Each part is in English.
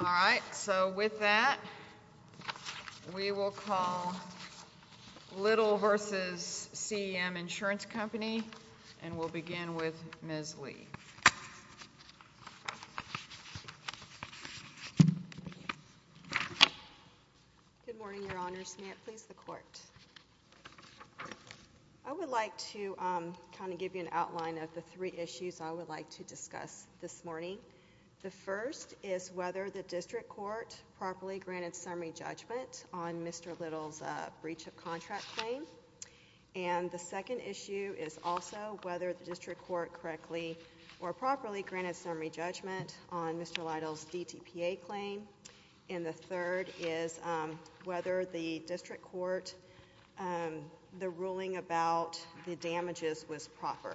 All right, so with that, we will call Lytle v. CEM Insurance Company, and we'll begin with Ms. Lee. Good morning, Your Honors. May it please the Court. I would like to kind of give you an outline of the three issues I would like to discuss this morning. The first is whether the district court properly granted summary judgment on Mr. Lytle's breach of contract claim. And the second issue is also whether the district court correctly or properly granted summary judgment on Mr. Lytle's DTPA claim. And the third is whether the district court, the ruling about the damages was proper.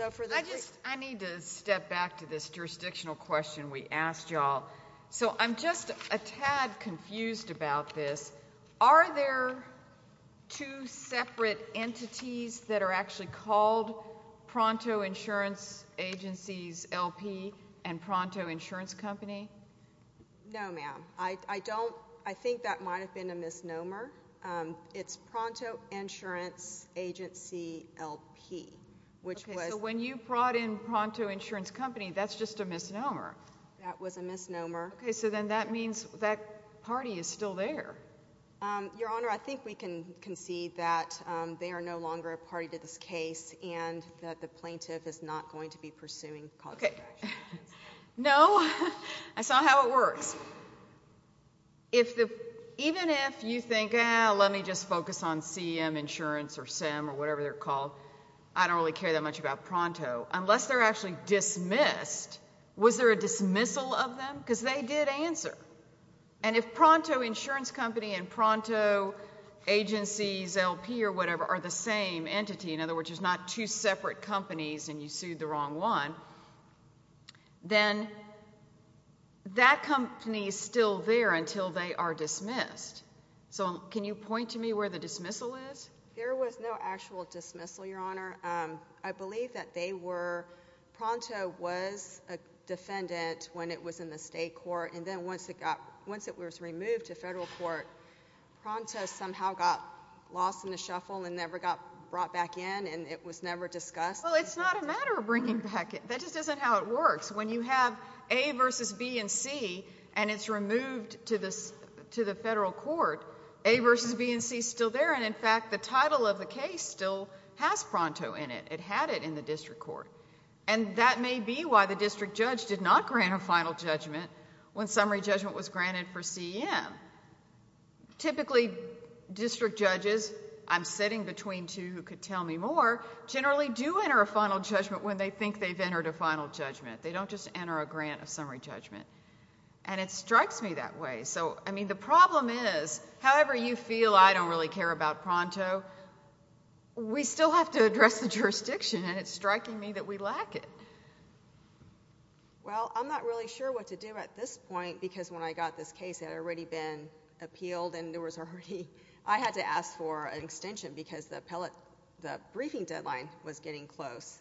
I just, I need to step back to this jurisdictional question we asked you all. So I'm just a tad confused about this. Are there two separate entities that are actually called Pronto Insurance Agency's LP and Pronto Insurance Company? No, ma'am. I don't, I think that might have been a misnomer. It's Pronto Insurance Agency LP, which was- Okay, so when you brought in Pronto Insurance Company, that's just a misnomer. That was a misnomer. Okay, so then that means that party is still there. Your Honor, I think we can concede that they are no longer a party to this case and that the plaintiff is not going to be pursuing cause of action against them. Okay. No, that's not how it works. Even if you think, ah, let me just focus on CEM Insurance or CEM or whatever they're called, I don't really care that much about Pronto, unless they're actually dismissed, was there a dismissal of them? Because they did answer. And if Pronto Insurance Company and Pronto Agency's LP or whatever are the same entity, in other words, there's not two separate companies and you sued the wrong one, then that company is still there until they are dismissed. So can you point to me where the dismissal is? There was no actual dismissal, Your Honor. I believe that they were, Pronto was a defendant when it was in the state court and then once it got, once it was removed to federal court, Pronto somehow got lost in the shuffle and never got brought back in and it was never discussed. Well, it's not a matter of bringing back in. That just isn't how it works. When you have A versus B and C and it's removed to the federal court, A versus B and C is still there and in fact, the title of the case still has Pronto in it. It had it in the district court. And that may be why the district judge did not grant a final judgment when summary judgment was granted for CEM. Typically, district judges, I'm sitting between two who could tell me more, generally do enter a final judgment when they think they've entered a final judgment. They don't just enter a grant of summary judgment. And it strikes me that way. So I mean, the problem is, however you feel I don't really care about Pronto, we still have to address the jurisdiction and it's striking me that we lack it. Well, I'm not really sure what to do at this point because when I got this case, it had already been appealed and there was already... I had to ask for an extension because the briefing deadline was getting close.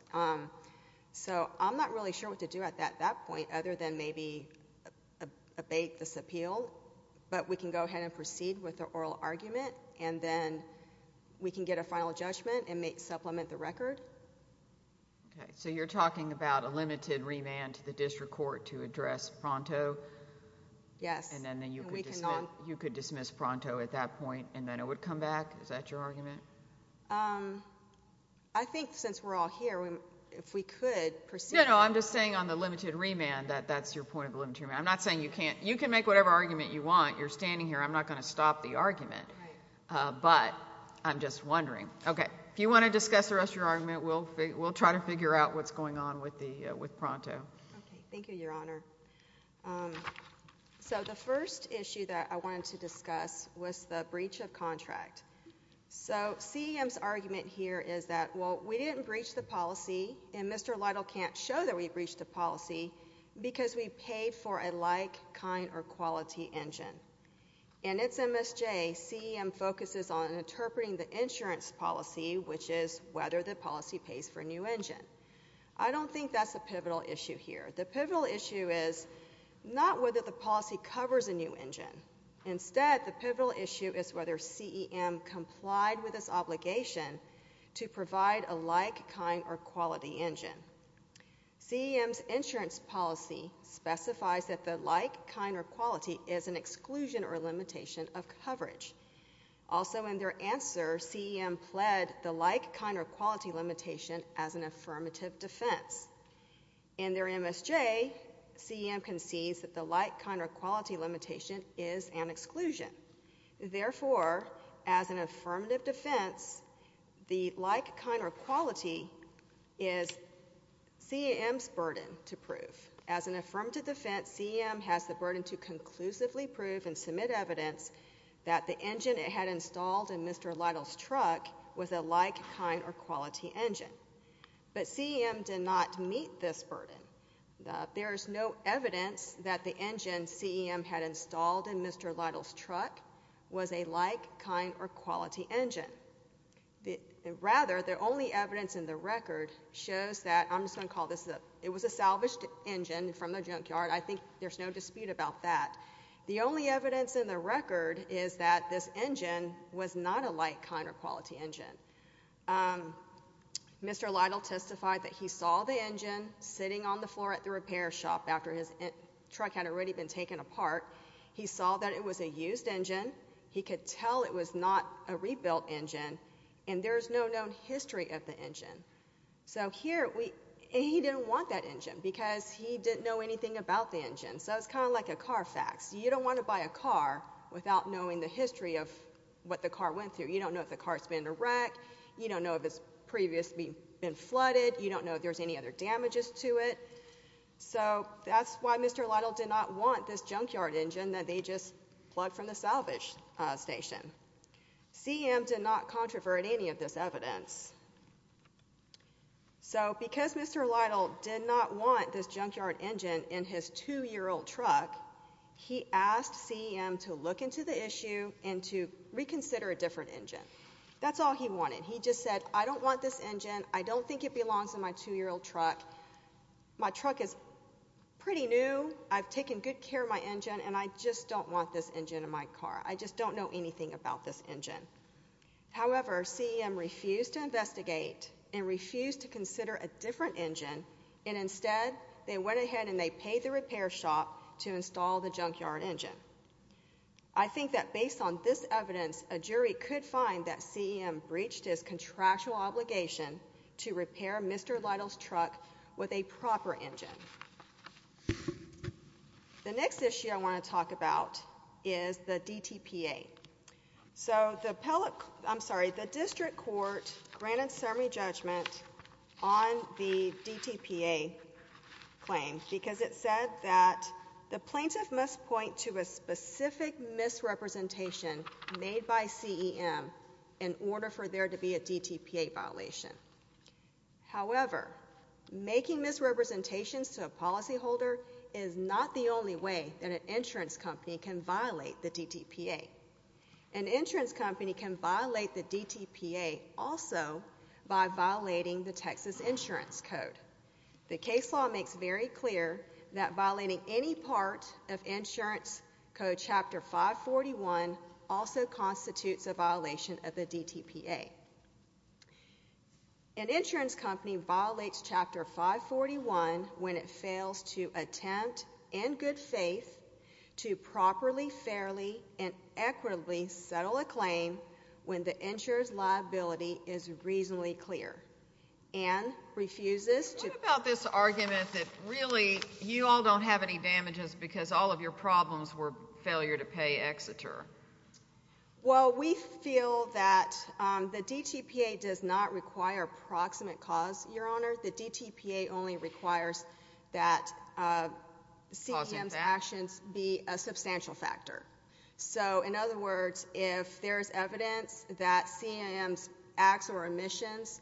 So I'm not really sure what to do at that point other than maybe abate this appeal. But we can go ahead and proceed with the oral argument and then we can get a final judgment and supplement the record. Okay. So you're talking about a limited remand to the district court to address Pronto? Yes. And then you could dismiss Pronto at that point and then it would come back? Is that your argument? I think since we're all here, if we could proceed... No, no. I'm just saying on the limited remand that that's your point of the limited remand. I'm not saying you can't... you can make whatever argument you want. You're standing here. I'm not going to stop the argument. Right. But I'm just wondering. Okay. If you want to discuss the rest of your argument, we'll try to figure out what's going on with Pronto. Okay. Thank you, Your Honor. So the first issue that I wanted to discuss was the breach of contract. So CEM's argument here is that, well, we didn't breach the policy and Mr. Lytle can't show that we breached the policy because we paid for a like, kind, or quality engine. And it's MSJ. CEM focuses on interpreting the insurance policy, which is whether the policy pays for a new engine. I don't think that's a pivotal issue here. The pivotal issue is not whether the policy covers a new engine. Instead, the pivotal issue is whether CEM complied with its obligation to provide a like, kind, or quality engine. CEM's insurance policy specifies that the like, kind, or quality is an exclusion or limitation of coverage. Also in their answer, CEM pled the like, kind, or quality limitation as an affirmative defense. In their MSJ, CEM concedes that the like, kind, or quality limitation is an exclusion. Therefore, as an affirmative defense, the like, kind, or quality is CEM's burden to prove. As an affirmative defense, CEM has the burden to conclusively prove and submit evidence that the engine it had installed in Mr. Lytle's truck was a like, kind, or quality engine. But CEM did not meet this burden. There's no evidence that the engine CEM had installed in Mr. Lytle's truck was a like, kind, or quality engine. Rather, the only evidence in the record shows that, I'm just going to call this, it was a salvaged engine from the junkyard. I think there's no dispute about that. The only evidence in the record is that this engine was not a like, kind, or quality engine. Mr. Lytle testified that he saw the engine sitting on the floor at the repair shop after his truck had already been taken apart. He saw that it was a used engine. He could tell it was not a rebuilt engine, and there's no known history of the engine. So here we, and he didn't want that engine because he didn't know anything about the engine. So it's kind of like a car fax. You don't want to buy a car without knowing the history of what the car went through. You don't know if the car's been in a wreck. You don't know if it's previously been flooded. You don't know if there's any other damages to it. So that's why Mr. Lytle did not want this junkyard engine that they just plugged from the salvage station. CEM did not controvert any of this evidence. So because Mr. Lytle did not want this junkyard engine in his 2-year-old truck, he asked CEM to look into the issue and to reconsider a different engine. That's all he wanted. He just said, I don't want this engine. I don't think it belongs in my 2-year-old truck. My truck is pretty new. I've taken good care of my engine, and I just don't want this engine in my car. I just don't know anything about this engine. However, CEM refused to investigate and refused to consider a different engine, and instead, they went ahead and they paid the repair shop to install the junkyard engine. I think that based on this evidence, a jury could find that CEM breached his contractual obligation to repair Mr. Lytle's truck with a proper engine. The next issue I want to talk about is the DTPA. So the district court granted summary judgment on the DTPA claim because it said that the plaintiff must point to a specific misrepresentation made by CEM in order for there to be a DTPA violation. However, making misrepresentations to a policyholder is not the only way that an insurance company can violate the DTPA. An insurance company can violate the DTPA also by violating the Texas Insurance Code. The case law makes very clear that violating any part of Insurance Code Chapter 541 also constitutes a violation of the DTPA. An insurance company violates Chapter 541 when it fails to attempt in good faith to properly, fairly, and equitably settle a claim when the insurer's liability is reasonably clear and refuses to- What about this argument that really you all don't have any damages because all of your problems were failure to pay Exeter? Well, we feel that the DTPA does not require approximate cause, Your Honor. The DTPA only requires that CEM's actions be a substantial factor. So in other words, if there's evidence that CEM's acts or omissions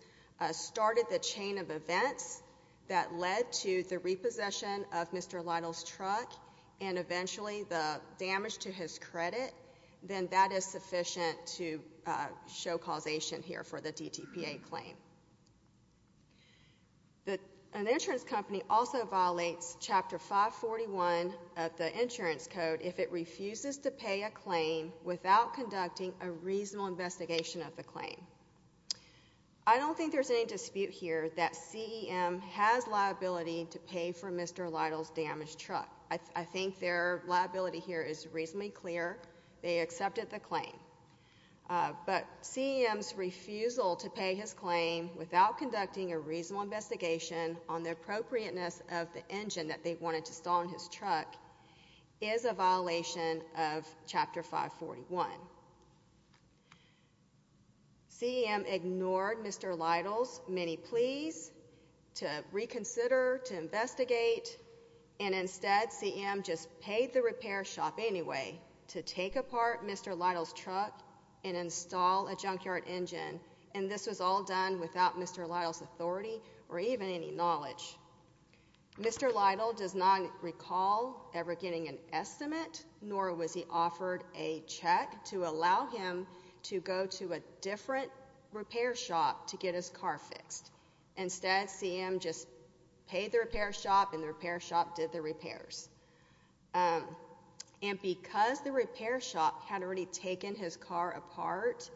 started the chain of events that led to the repossession of Mr. Lytle's truck and eventually the damage to his credit, then that is sufficient to show causation here for the DTPA claim. An insurance company also violates Chapter 541 of the Insurance Code if it refuses to pay a claim without conducting a reasonable investigation of the claim. I don't think there's any dispute here that CEM has liability to pay for Mr. Lytle's damaged truck. I think their liability here is reasonably clear. They accepted the claim. But CEM's refusal to pay his claim without conducting a reasonable investigation on the appropriateness of the engine that they wanted to stall on his truck is a violation of Chapter 541. CEM ignored Mr. Lytle's many pleas to reconsider, to investigate, and instead CEM just paid the repair shop anyway to take apart Mr. Lytle's truck and install a junkyard engine, and this was all done without Mr. Lytle's authority or even any knowledge. Mr. Lytle does not recall ever getting an estimate, nor was he offered a check to allow him to go to a different repair shop to get his car fixed. Instead, CEM just paid the repair shop and the repair shop did the repairs. And because the repair shop had already taken his car apart,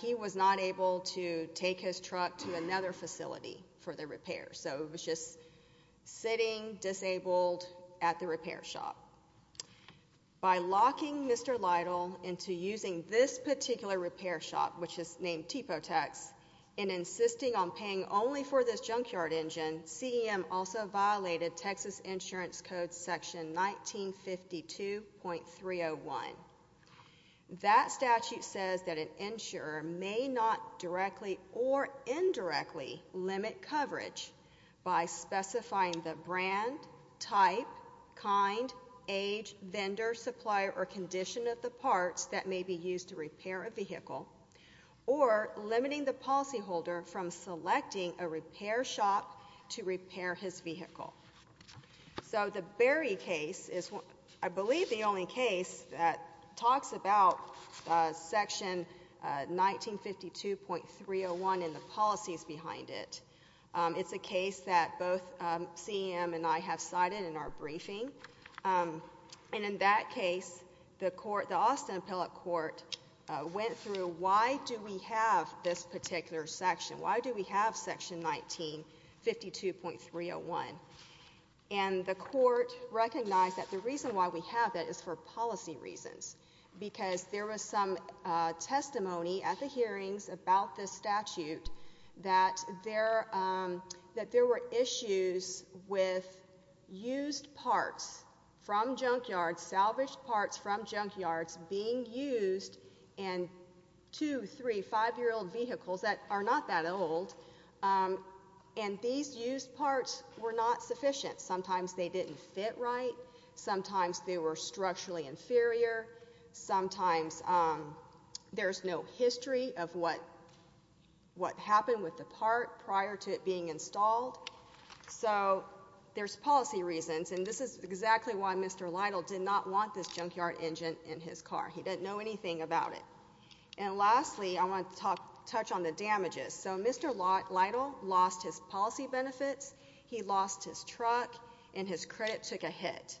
he was not able to take his truck to another facility for the repair. So it was just sitting disabled at the repair shop. By locking Mr. Lytle into using this particular repair shop, which is named Tepotex, and insisting on paying only for this junkyard engine, CEM also violated Texas Insurance Code Section 1952.301. That statute says that an insurer may not directly or indirectly limit coverage by specifying the brand, type, kind, age, vendor, supplier, or condition of the parts that may be used to repair a vehicle, or limiting the policyholder from selecting a repair shop to repair his vehicle. So the Berry case is, I believe, the only case that talks about Section 1952.301 and the policies behind it. It's a case that both CEM and I have cited in our briefing. And in that case, the Austin Appellate Court went through, why do we have this particular section? Why do we have Section 1952.301? And the court recognized that the reason why we have that is for policy reasons, because there was some testimony at the hearings about this statute that there were issues with used parts from junkyards, salvaged parts from junkyards being used in two, three, five-year-old vehicles that are not that old. And these used parts were not sufficient. Sometimes they didn't fit right. Sometimes they were structurally inferior. Sometimes there's no history of what happened with the part prior to it being installed. So there's policy reasons. And this is exactly why Mr. Lytle did not want this junkyard engine in his car. He didn't know anything about it. And lastly, I want to touch on the damages. So Mr. Lytle lost his policy benefits. He lost his truck. And his credit took a hit.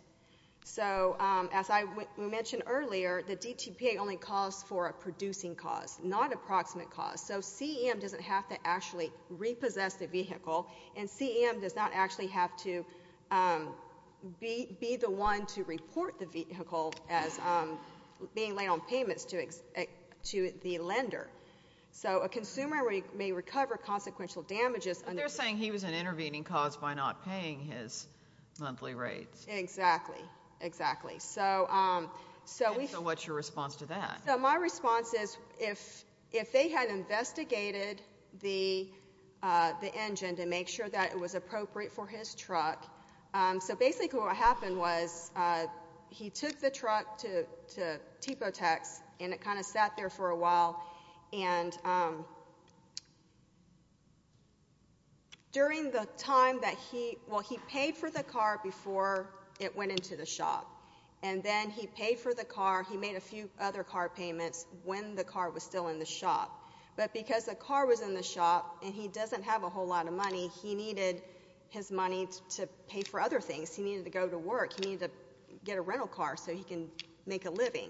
So as I mentioned earlier, the DTPA only calls for a producing cause, not approximate cause. So CEM doesn't have to actually repossess the vehicle, and CEM does not actually have to be the one to report the vehicle as being laid on payments to the lender. So a consumer may recover consequential damages. But they're saying he was an intervening cause by not paying his monthly rates. Exactly. Exactly. And so what's your response to that? So my response is if they had investigated the engine to make sure that it was appropriate for his truck. So basically what happened was he took the truck to Tipo Tax, and it kind of sat there for a while. And during the time that he – well, he paid for the car before it went into the shop. He made a few other car payments when the car was still in the shop. But because the car was in the shop and he doesn't have a whole lot of money, he needed his money to pay for other things. He needed to go to work. He needed to get a rental car so he can make a living.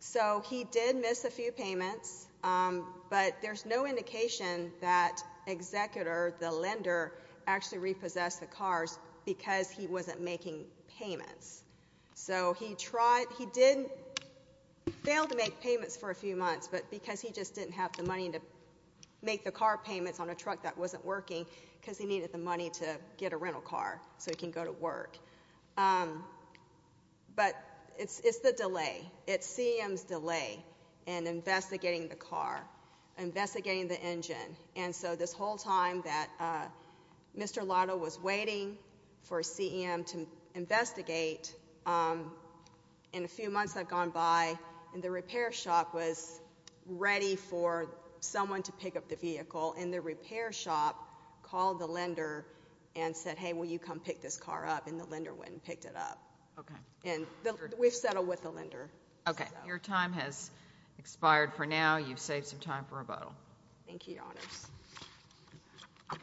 So he did miss a few payments. But there's no indication that executor, the lender, actually repossessed the cars because he wasn't making payments. So he tried – he did fail to make payments for a few months, but because he just didn't have the money to make the car payments on a truck that wasn't working because he needed the money to get a rental car so he can go to work. But it's the delay. It's CEM's delay in investigating the car, investigating the engine. And so this whole time that Mr. Lotto was waiting for CEM to investigate, in a few months had gone by, and the repair shop was ready for someone to pick up the vehicle, and the repair shop called the lender and said, hey, will you come pick this car up? And the lender went and picked it up. Okay. And we've settled with the lender. Okay. Your time has expired for now. You've saved some time for rebuttal. Thank you, Your Honors. Good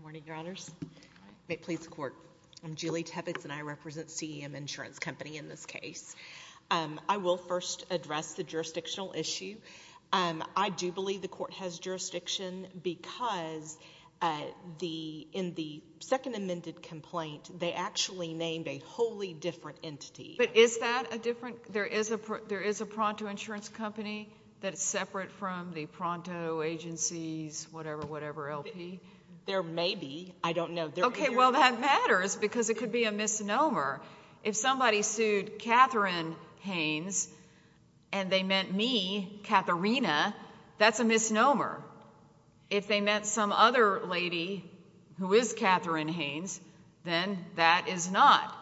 morning, Your Honors. May it please the Court. I'm Julie Tebbets, and I represent CEM Insurance Company in this case. I will first address the jurisdictional issue. I do believe the Court has jurisdiction because in the second amended complaint, they actually named a wholly different entity. But is that a different? There is a Pronto Insurance Company that is separate from the Pronto Agencies, whatever, whatever LP? There may be. I don't know. Okay. Well, that matters because it could be a misnomer. If somebody sued Katherine Haynes and they meant me, Katharina, that's a misnomer. If they meant some other lady who is Katherine Haynes, then that is not.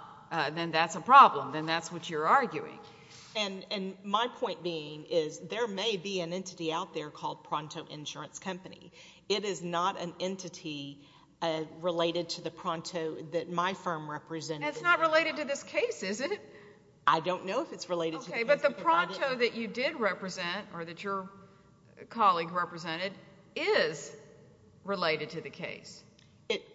Then that's a problem. Then that's what you're arguing. And my point being is there may be an entity out there called Pronto Insurance Company. It is not an entity related to the Pronto that my firm represented. It's not related to this case, is it? I don't know if it's related to the case. Okay. But the Pronto that you did represent or that your colleague represented is related to the case.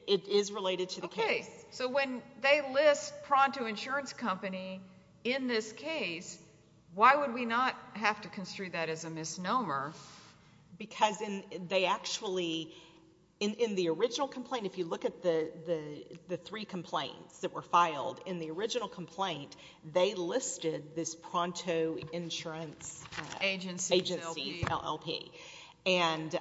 It is related to the case. Okay. So when they list Pronto Insurance Company in this case, why would we not have to construe that as a misnomer? Because they actually, in the original complaint, if you look at the three complaints that were filed in the original complaint, they listed this Pronto Insurance Agency, LLP. And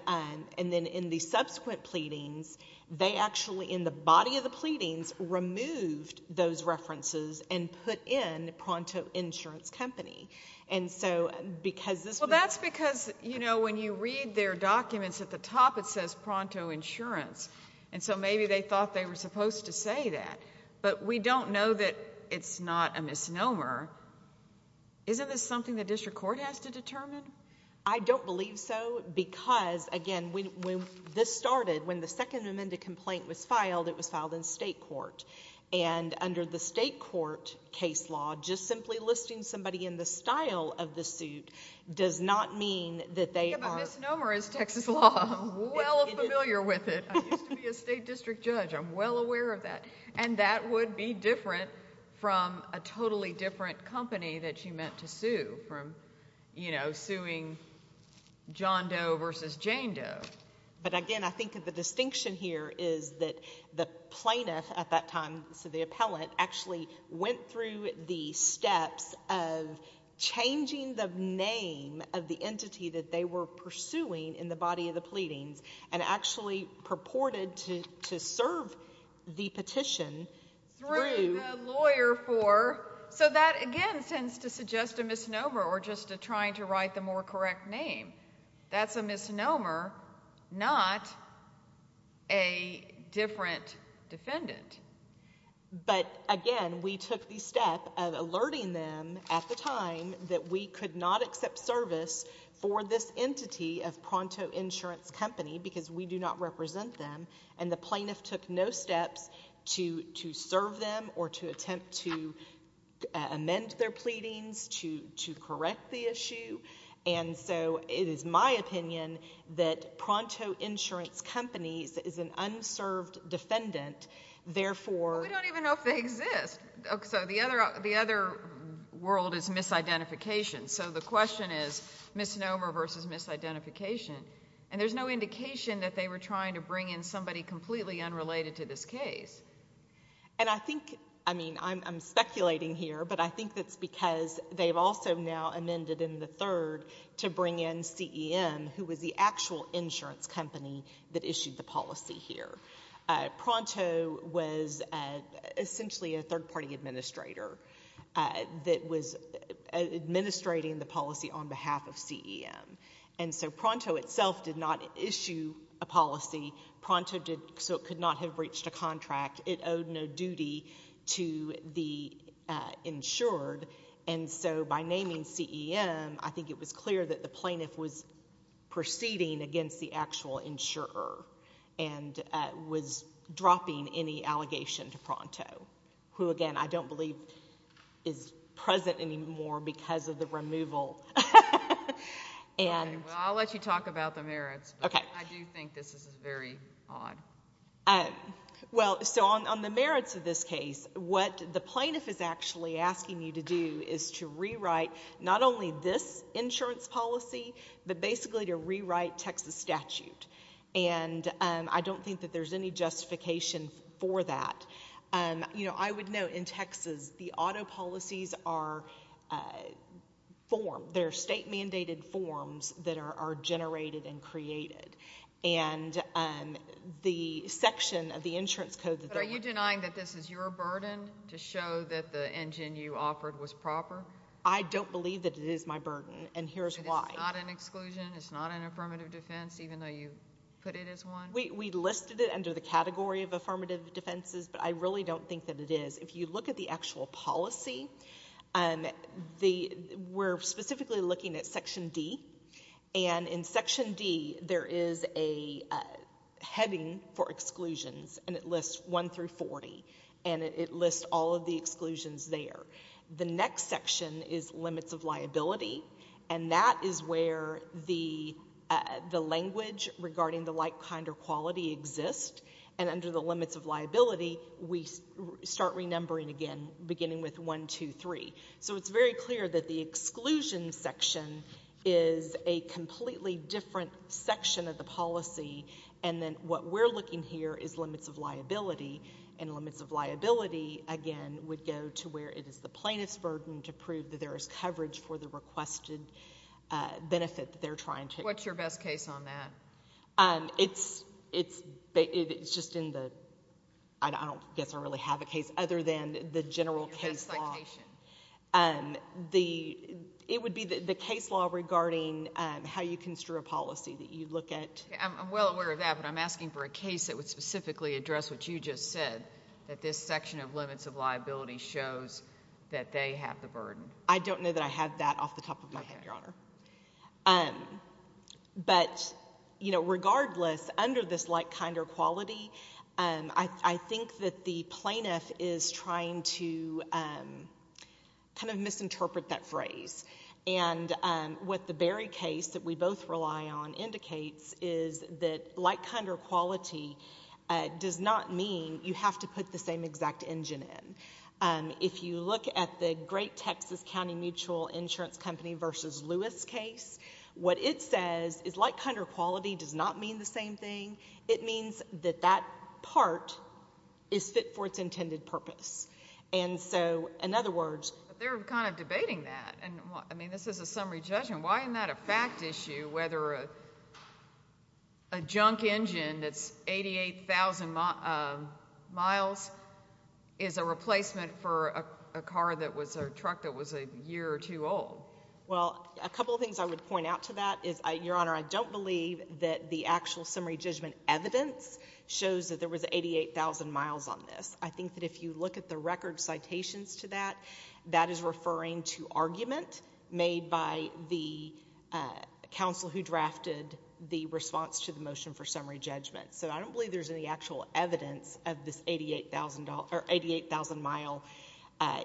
then in the subsequent pleadings, they actually in the body of the pleadings removed those references and put in Pronto Insurance Company. Well, that's because, you know, when you read their documents, at the top it says Pronto Insurance, and so maybe they thought they were supposed to say that. But we don't know that it's not a misnomer. Isn't this something the district court has to determine? I don't believe so because, again, when this started, when the second amended complaint was filed, it was filed in state court. And under the state court case law, just simply listing somebody in the style of the suit does not mean that they are... Yeah, but misnomer is Texas law. I'm well familiar with it. I used to be a state district judge. I'm well aware of that. And that would be different from a totally different company that she meant to sue, from, you know, suing John Doe versus Jane Doe. But, again, I think the distinction here is that the plaintiff at that time, so the appellant, actually went through the steps of changing the name of the entity that they were pursuing in the body of the pleadings and actually purported to serve the petition through... Through the lawyer for... So that, again, tends to suggest a misnomer or just trying to write the more correct name. That's a misnomer, not a different defendant. But, again, we took the step of alerting them at the time that we could not accept service for this entity of Pronto Insurance Company because we do not represent them, and the plaintiff took no steps to serve them or to attempt to amend their pleadings, to correct the issue. And so it is my opinion that Pronto Insurance Companies is an unserved defendant, therefore... Well, we don't even know if they exist. So the other world is misidentification. So the question is misnomer versus misidentification, and there's no indication that they were trying to bring in somebody completely unrelated to this case. And I think, I mean, I'm speculating here, but I think that's because they've also now amended in the third to bring in CEM, who was the actual insurance company that issued the policy here. Pronto was essentially a third-party administrator that was administrating the policy on behalf of CEM. And so Pronto itself did not issue a policy. Pronto did so it could not have reached a contract. It owed no duty to the insured. And so by naming CEM, I think it was clear that the plaintiff was proceeding against the actual insurer and was dropping any allegation to Pronto, who, again, I don't believe is present anymore because of the removal. Well, I'll let you talk about the merits, but I do think this is very odd. Well, so on the merits of this case, what the plaintiff is actually asking you to do is to rewrite not only this insurance policy, but basically to rewrite Texas statute. And I don't think that there's any justification for that. You know, I would note in Texas, the auto policies are form. They're state-mandated forms that are generated and created. And the section of the insurance code... But are you denying that this is your burden, to show that the engine you offered was proper? I don't believe that it is my burden, and here's why. It is not an exclusion. It's not an affirmative defense, even though you put it as one. We listed it under the category of affirmative defenses, but I really don't think that it is. If you look at the actual policy, we're specifically looking at Section D, and in Section D, there is a heading for exclusions, and it lists 1 through 40, and it lists all of the exclusions there. The next section is limits of liability, and that is where the language regarding the like, kind, or quality exists, and under the limits of liability, we start renumbering again, beginning with 1, 2, 3. So it's very clear that the exclusion section is a completely different section of the policy, and then what we're looking here is limits of liability, and limits of liability, again, would go to where it is the plaintiff's burden to prove that there is coverage for the requested benefit that they're trying to... What's your best case on that? It's just in the... I don't guess I really have a case, other than the general case law. Your best citation. It would be the case law regarding how you construe a policy that you look at. I'm well aware of that, but I'm asking for a case that would specifically address what you just said, that this section of limits of liability shows that they have the burden. I don't know that I have that off the top of my head, Your Honor. But, you know, regardless, under this like, kind, or quality, I think that the plaintiff is trying to kind of misinterpret that phrase, and what the Berry case that we both rely on indicates is that like, kind, or quality does not mean you have to put the same exact engine in. If you look at the great Texas County Mutual Insurance Company v. Lewis case, what it says is like, kind, or quality does not mean the same thing. It means that that part is fit for its intended purpose. And so, in other words... But they're kind of debating that. I mean, this is a summary judgment. Why isn't that a fact issue, whether a junk engine that's 88,000 miles is a replacement for a truck that was a year or two old? Well, a couple of things I would point out to that is, Your Honor, I don't believe that the actual summary judgment evidence shows that there was 88,000 miles on this. I think that if you look at the record citations to that, that is referring to argument made by the counsel who drafted the response to the motion for summary judgment. So I don't believe there's any actual evidence of this 88,000-mile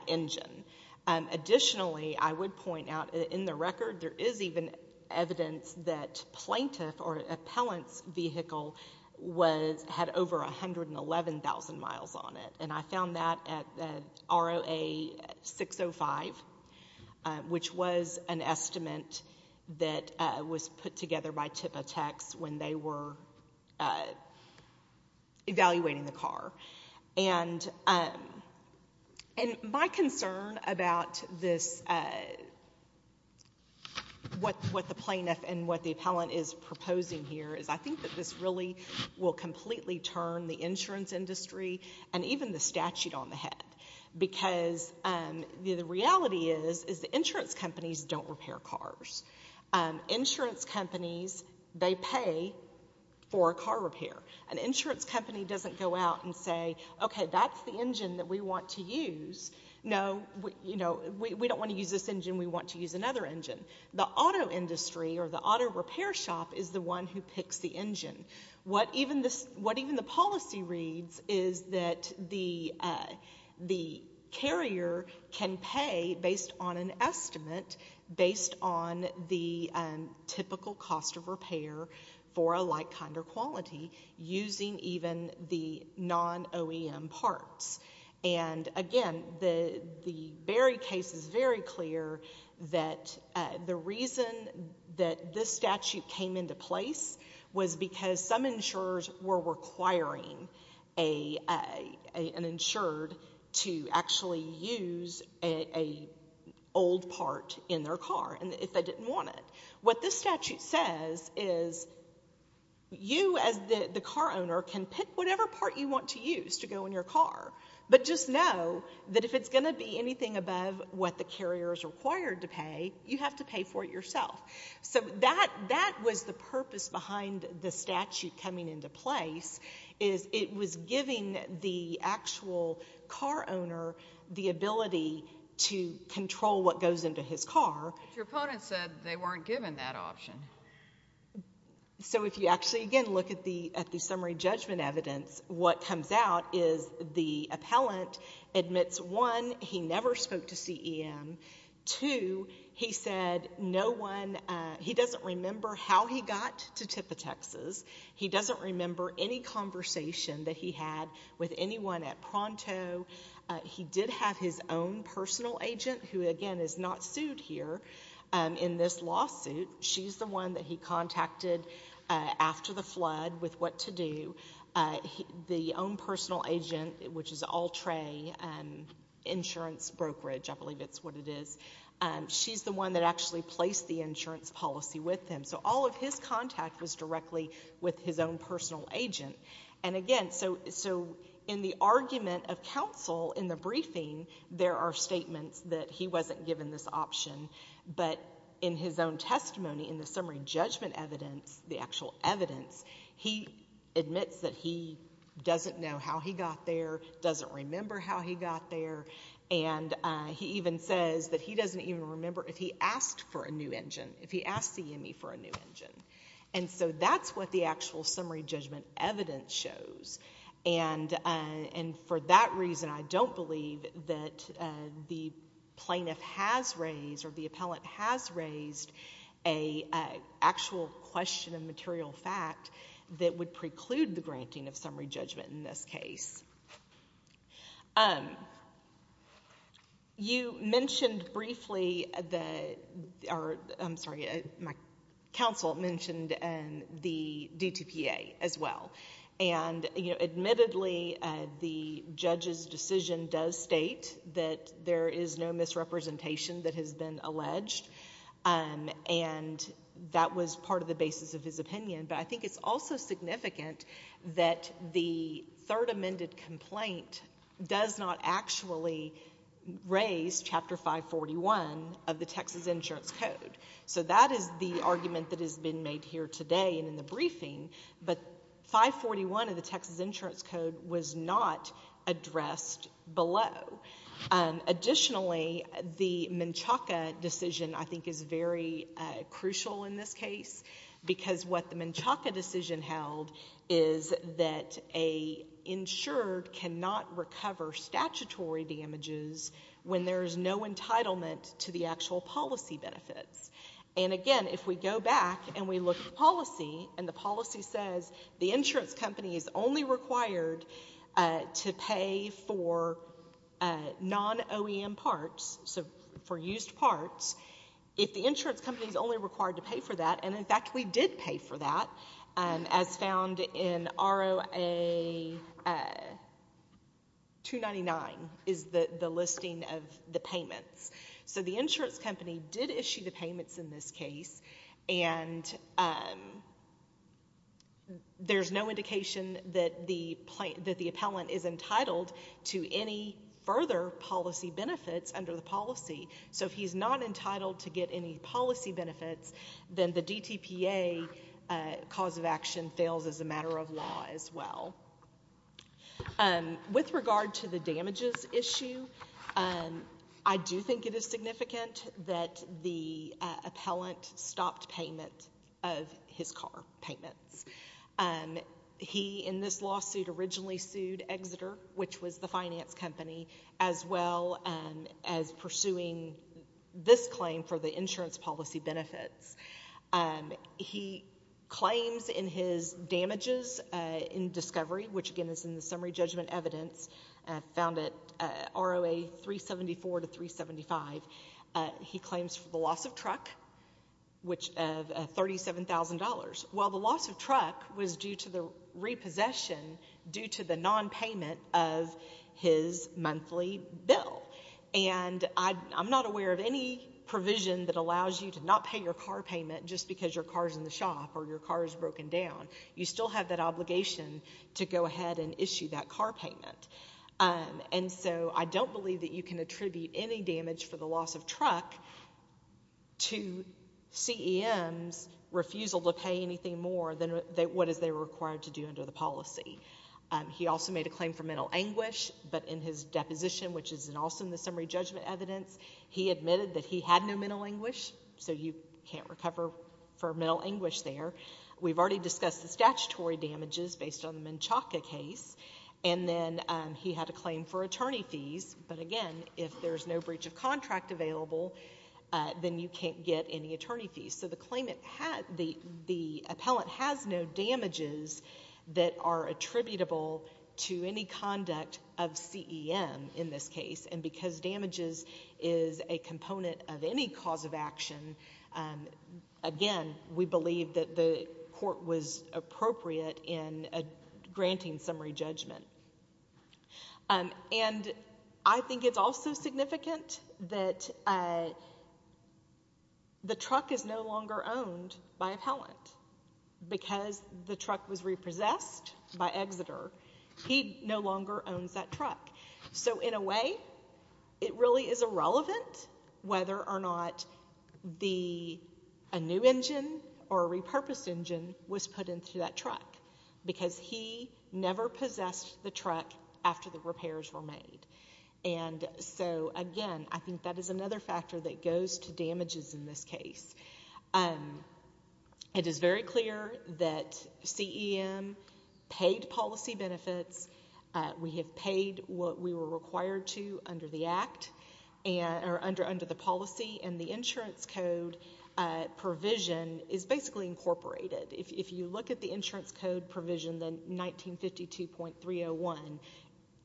engine. Additionally, I would point out, in the record, there is even evidence that plaintiff or appellant's vehicle had over 111,000 miles on it. And I found that at ROA 605, which was an estimate that was put together by TIPA Techs when they were evaluating the car. And my concern about what the plaintiff and what the appellant is proposing here is I think that this really will completely turn the insurance industry and even the statute on the head, because the reality is the insurance companies don't repair cars. Insurance companies, they pay for a car repair. An insurance company doesn't go out and say, okay, that's the engine that we want to use. No, we don't want to use this engine. We want to use another engine. The auto industry or the auto repair shop is the one who picks the engine. What even the policy reads is that the carrier can pay, based on an estimate, based on the typical cost of repair for a like, kind, or quality, using even the non-OEM parts. And, again, the Berry case is very clear that the reason that this statute came into place was because some insurers were requiring an insured to actually use an old part in their car if they didn't want it. What this statute says is you as the car owner can pick whatever part you want to use to go in your car, but just know that if it's going to be anything above what the carrier is required to pay, you have to pay for it yourself. So that was the purpose behind the statute coming into place, is it was giving the actual car owner the ability to control what goes into his car. But your opponent said they weren't given that option. So if you actually, again, look at the summary judgment evidence, what comes out is the appellant admits, one, he never spoke to CEM, two, he said no one, he doesn't remember how he got to Tippa, Texas. He doesn't remember any conversation that he had with anyone at Pronto. He did have his own personal agent, who, again, is not sued here in this lawsuit. She's the one that he contacted after the flood with what to do. The own personal agent, which is Altrae Insurance Brokerage, I believe it's what it is, she's the one that actually placed the insurance policy with him. So all of his contact was directly with his own personal agent. And, again, so in the argument of counsel in the briefing, there are statements that he wasn't given this option, but in his own testimony in the summary judgment evidence, the actual evidence, he admits that he doesn't know how he got there, doesn't remember how he got there, and he even says that he doesn't even remember if he asked for a new engine, if he asked CME for a new engine. And so that's what the actual summary judgment evidence shows. And for that reason, I don't believe that the plaintiff has raised or the appellant has raised an actual question of material fact that would preclude the granting of summary judgment in this case. You mentioned briefly the... I'm sorry, my counsel mentioned the DTPA as well. And, you know, admittedly, the judge's decision does state that there is no misrepresentation that has been alleged, and that was part of the basis of his opinion. But I think it's also significant that the third amended complaint does not actually raise Chapter 541 of the Texas Insurance Code. So that is the argument that has been made here today and in the briefing, but 541 of the Texas Insurance Code was not addressed below. Additionally, the Menchaca decision, I think, is very crucial in this case because what the Menchaca decision held is that an insured cannot recover statutory damages when there is no entitlement to the actual policy benefits. And, again, if we go back and we look at the policy, and the policy says the insurance company is only required to pay for non-OEM parts, so for used parts, if the insurance company is only required to pay for that, and, in fact, we did pay for that, as found in ROA 299 is the listing of the payments. So the insurance company did issue the payments in this case, and there's no indication that the appellant is entitled to any further policy benefits under the policy. So if he's not entitled to get any policy benefits, then the DTPA cause of action fails as a matter of law as well. With regard to the damages issue, I do think it is significant that the appellant stopped payment of his car payments. He, in this lawsuit, originally sued Exeter, which was the finance company, as well as pursuing this claim for the insurance policy benefits. He claims in his damages in discovery, which, again, is in the summary judgment evidence found at ROA 374 to 375, he claims for the loss of truck, which $37,000. Well, the loss of truck was due to the repossession due to the nonpayment of his monthly bill. And I'm not aware of any provision that allows you to not pay your car payment just because your car is in the shop or your car is broken down. You still have that obligation to go ahead and issue that car payment. And so I don't believe that you can attribute any damage for the loss of truck to CEM's refusal to pay anything more than what is there required to do under the policy. He also made a claim for mental anguish, but in his deposition, which is also in the summary judgment evidence, he admitted that he had no mental anguish, so you can't recover for mental anguish there. We've already discussed the statutory damages based on the Menchaca case, and then he had a claim for attorney fees. But, again, if there's no breach of contract available, then you can't get any attorney fees. So the claimant had the appellant has no damages that are attributable to any conduct of CEM in this case, and because damages is a component of any cause of action, again, we believe that the court was appropriate in granting summary judgment. And I think it's also significant that the truck is no longer owned by appellant. Because the truck was repossessed by Exeter, he no longer owns that truck. So, in a way, it really is irrelevant whether or not a new engine or a repurposed engine was put into that truck, because he never possessed the truck after the repairs were made. And so, again, I think that is another factor that goes to damages in this case. It is very clear that CEM paid policy benefits. We have paid what we were required to under the policy, and the insurance code provision is basically incorporated. If you look at the insurance code provision, the 1952.301,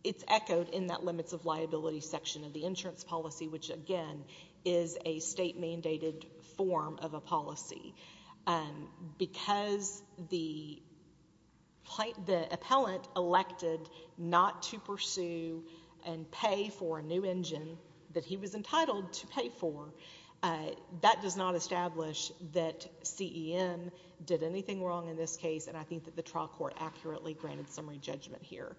it's echoed in that limits of liability section of the insurance policy, which, again, is a state-mandated form of a policy. Because the appellant elected not to pursue and pay for a new engine that he was entitled to pay for, that does not establish that CEM did anything wrong in this case, and I think that the trial court accurately granted summary judgment here.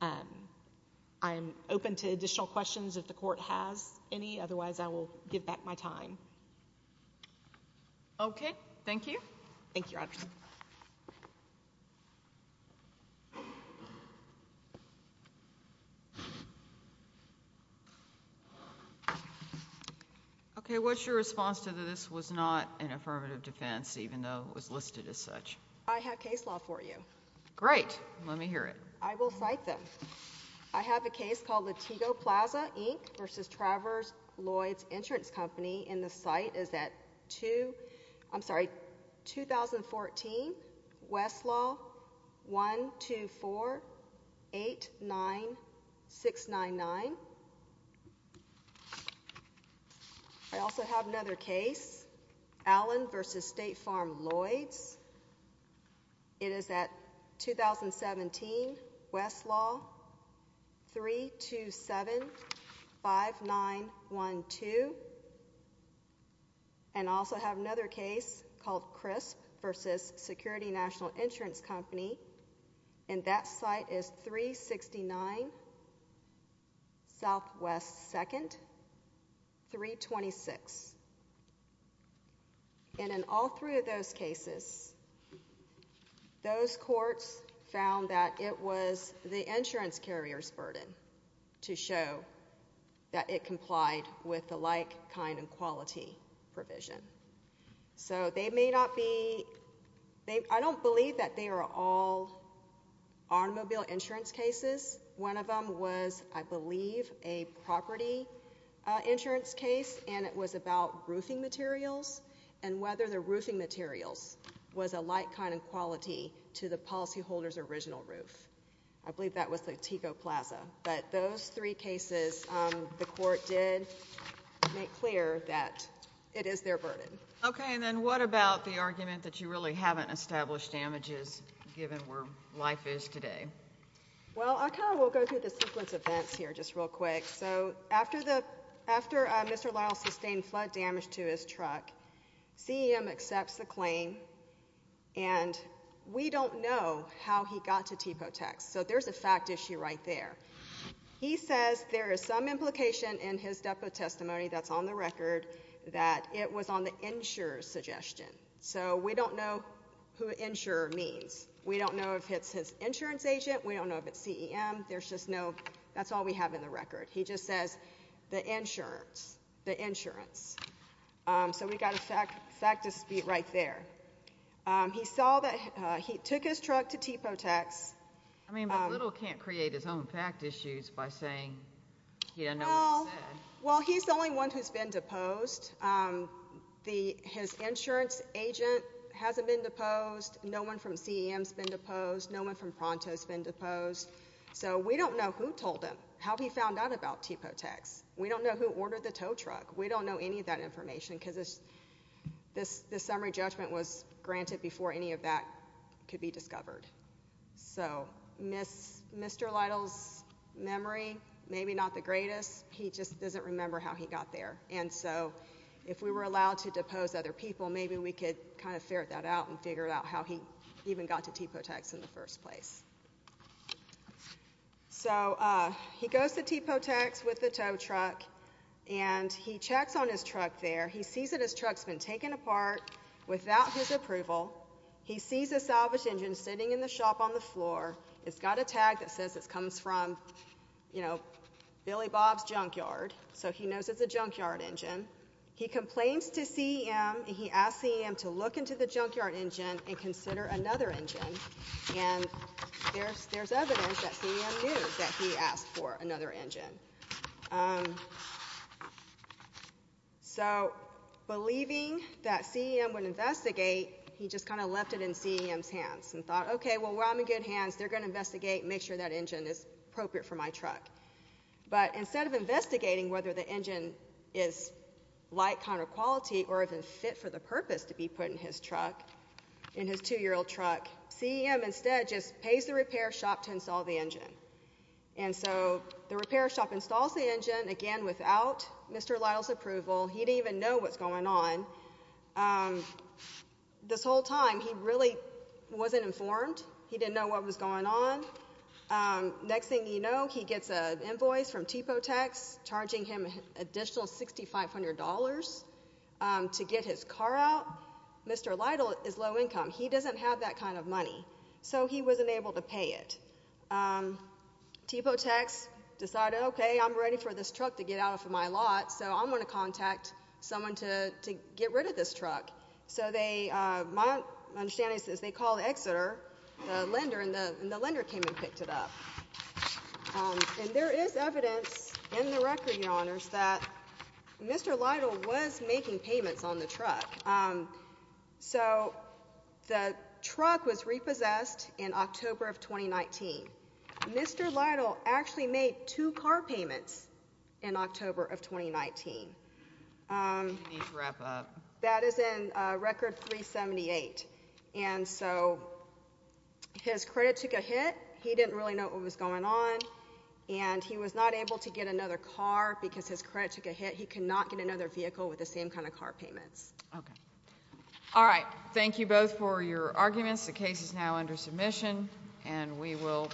I am open to additional questions if the court has any. Otherwise, I will give back my time. Thank you, Your Honor. Okay. What's your response to this was not an affirmative defense, even though it was listed as such? I have case law for you. Great. Let me hear it. I will cite them. I have a case called Latigo Plaza, Inc., versus Travers-Lloyds Insurance Company, and the site is at 2014, Westlaw, 12489699. I also have another case, Allen versus State Farm-Lloyds. It is at 2017, Westlaw, 3275912. And I also have another case called Crisp versus Security National Insurance Company, and that site is 369 Southwest 2nd, 326. And in all three of those cases, those courts found that it was the insurance carrier's burden to show that it complied with the like, kind, and quality provision. So they may not be they I don't believe that they are all automobile insurance cases. One of them was, I believe, a property insurance case, and it was about roofing materials and whether the roofing materials was a like, kind, and quality to the policyholder's original roof. I believe that was Latigo Plaza. But those three cases, the court did make clear that it is their burden. Okay, and then what about the argument that you really haven't established damages, given where life is today? Well, I kind of will go through the sequence of events here just real quick. So after Mr. Lyles sustained flood damage to his truck, CEM accepts the claim, and we don't know how he got to TIPO tax. So there's a fact issue right there. He says there is some implication in his depo testimony that's on the record that it was on the insurer's suggestion. So we don't know who insurer means. We don't know if it's his insurance agent. We don't know if it's CEM. There's just no that's all we have in the record. He just says the insurance, the insurance. So we've got a fact dispute right there. He saw that he took his truck to TIPO tax. I mean, but Little can't create his own fact issues by saying he didn't know what he said. Well, he's the only one who's been deposed. His insurance agent hasn't been deposed. No one from CEM's been deposed. No one from Pronto's been deposed. So we don't know who told him how he found out about TIPO tax. We don't know who ordered the tow truck. We don't know any of that information because this summary judgment was granted before any of that could be discovered. So Mr. Lytle's memory, maybe not the greatest. He just doesn't remember how he got there. And so if we were allowed to depose other people, maybe we could kind of ferret that out and figure out how he even got to TIPO tax in the first place. So he goes to TIPO tax with the tow truck, and he checks on his truck there. He sees that his truck's been taken apart without his approval. He sees a salvaged engine sitting in the shop on the floor. It's got a tag that says it comes from, you know, Billy Bob's Junkyard. So he knows it's a junkyard engine. He complains to CEM, and he asks CEM to look into the junkyard engine and consider another engine. And there's evidence that CEM knew that he asked for another engine. So believing that CEM would investigate, he just kind of left it in CEM's hands and thought, okay, well, while I'm in good hands, they're going to investigate and make sure that engine is appropriate for my truck. But instead of investigating whether the engine is light, counter-quality, or even fit for the purpose to be put in his truck, in his 2-year-old truck, CEM instead just pays the repair shop to install the engine. And so the repair shop installs the engine, again, without Mr. Lytle's approval. He didn't even know what's going on. This whole time he really wasn't informed. He didn't know what was going on. Next thing you know, he gets an invoice from Tipo Tax charging him an additional $6,500 to get his car out. Mr. Lytle is low income. He doesn't have that kind of money, so he wasn't able to pay it. Tipo Tax decided, okay, I'm ready for this truck to get out of my lot, so I'm going to contact someone to get rid of this truck. So my understanding is they called Exeter, the lender, and the lender came and picked it up. And there is evidence in the record, Your Honors, that Mr. Lytle was making payments on the truck. So the truck was repossessed in October of 2019. Mr. Lytle actually made two car payments in October of 2019. That is in Record 378. And so his credit took a hit. He didn't really know what was going on, and he was not able to get another car because his credit took a hit. He could not get another vehicle with the same kind of car payments. Okay. All right. Thank you both for your arguments. The case is now under submission, and we will.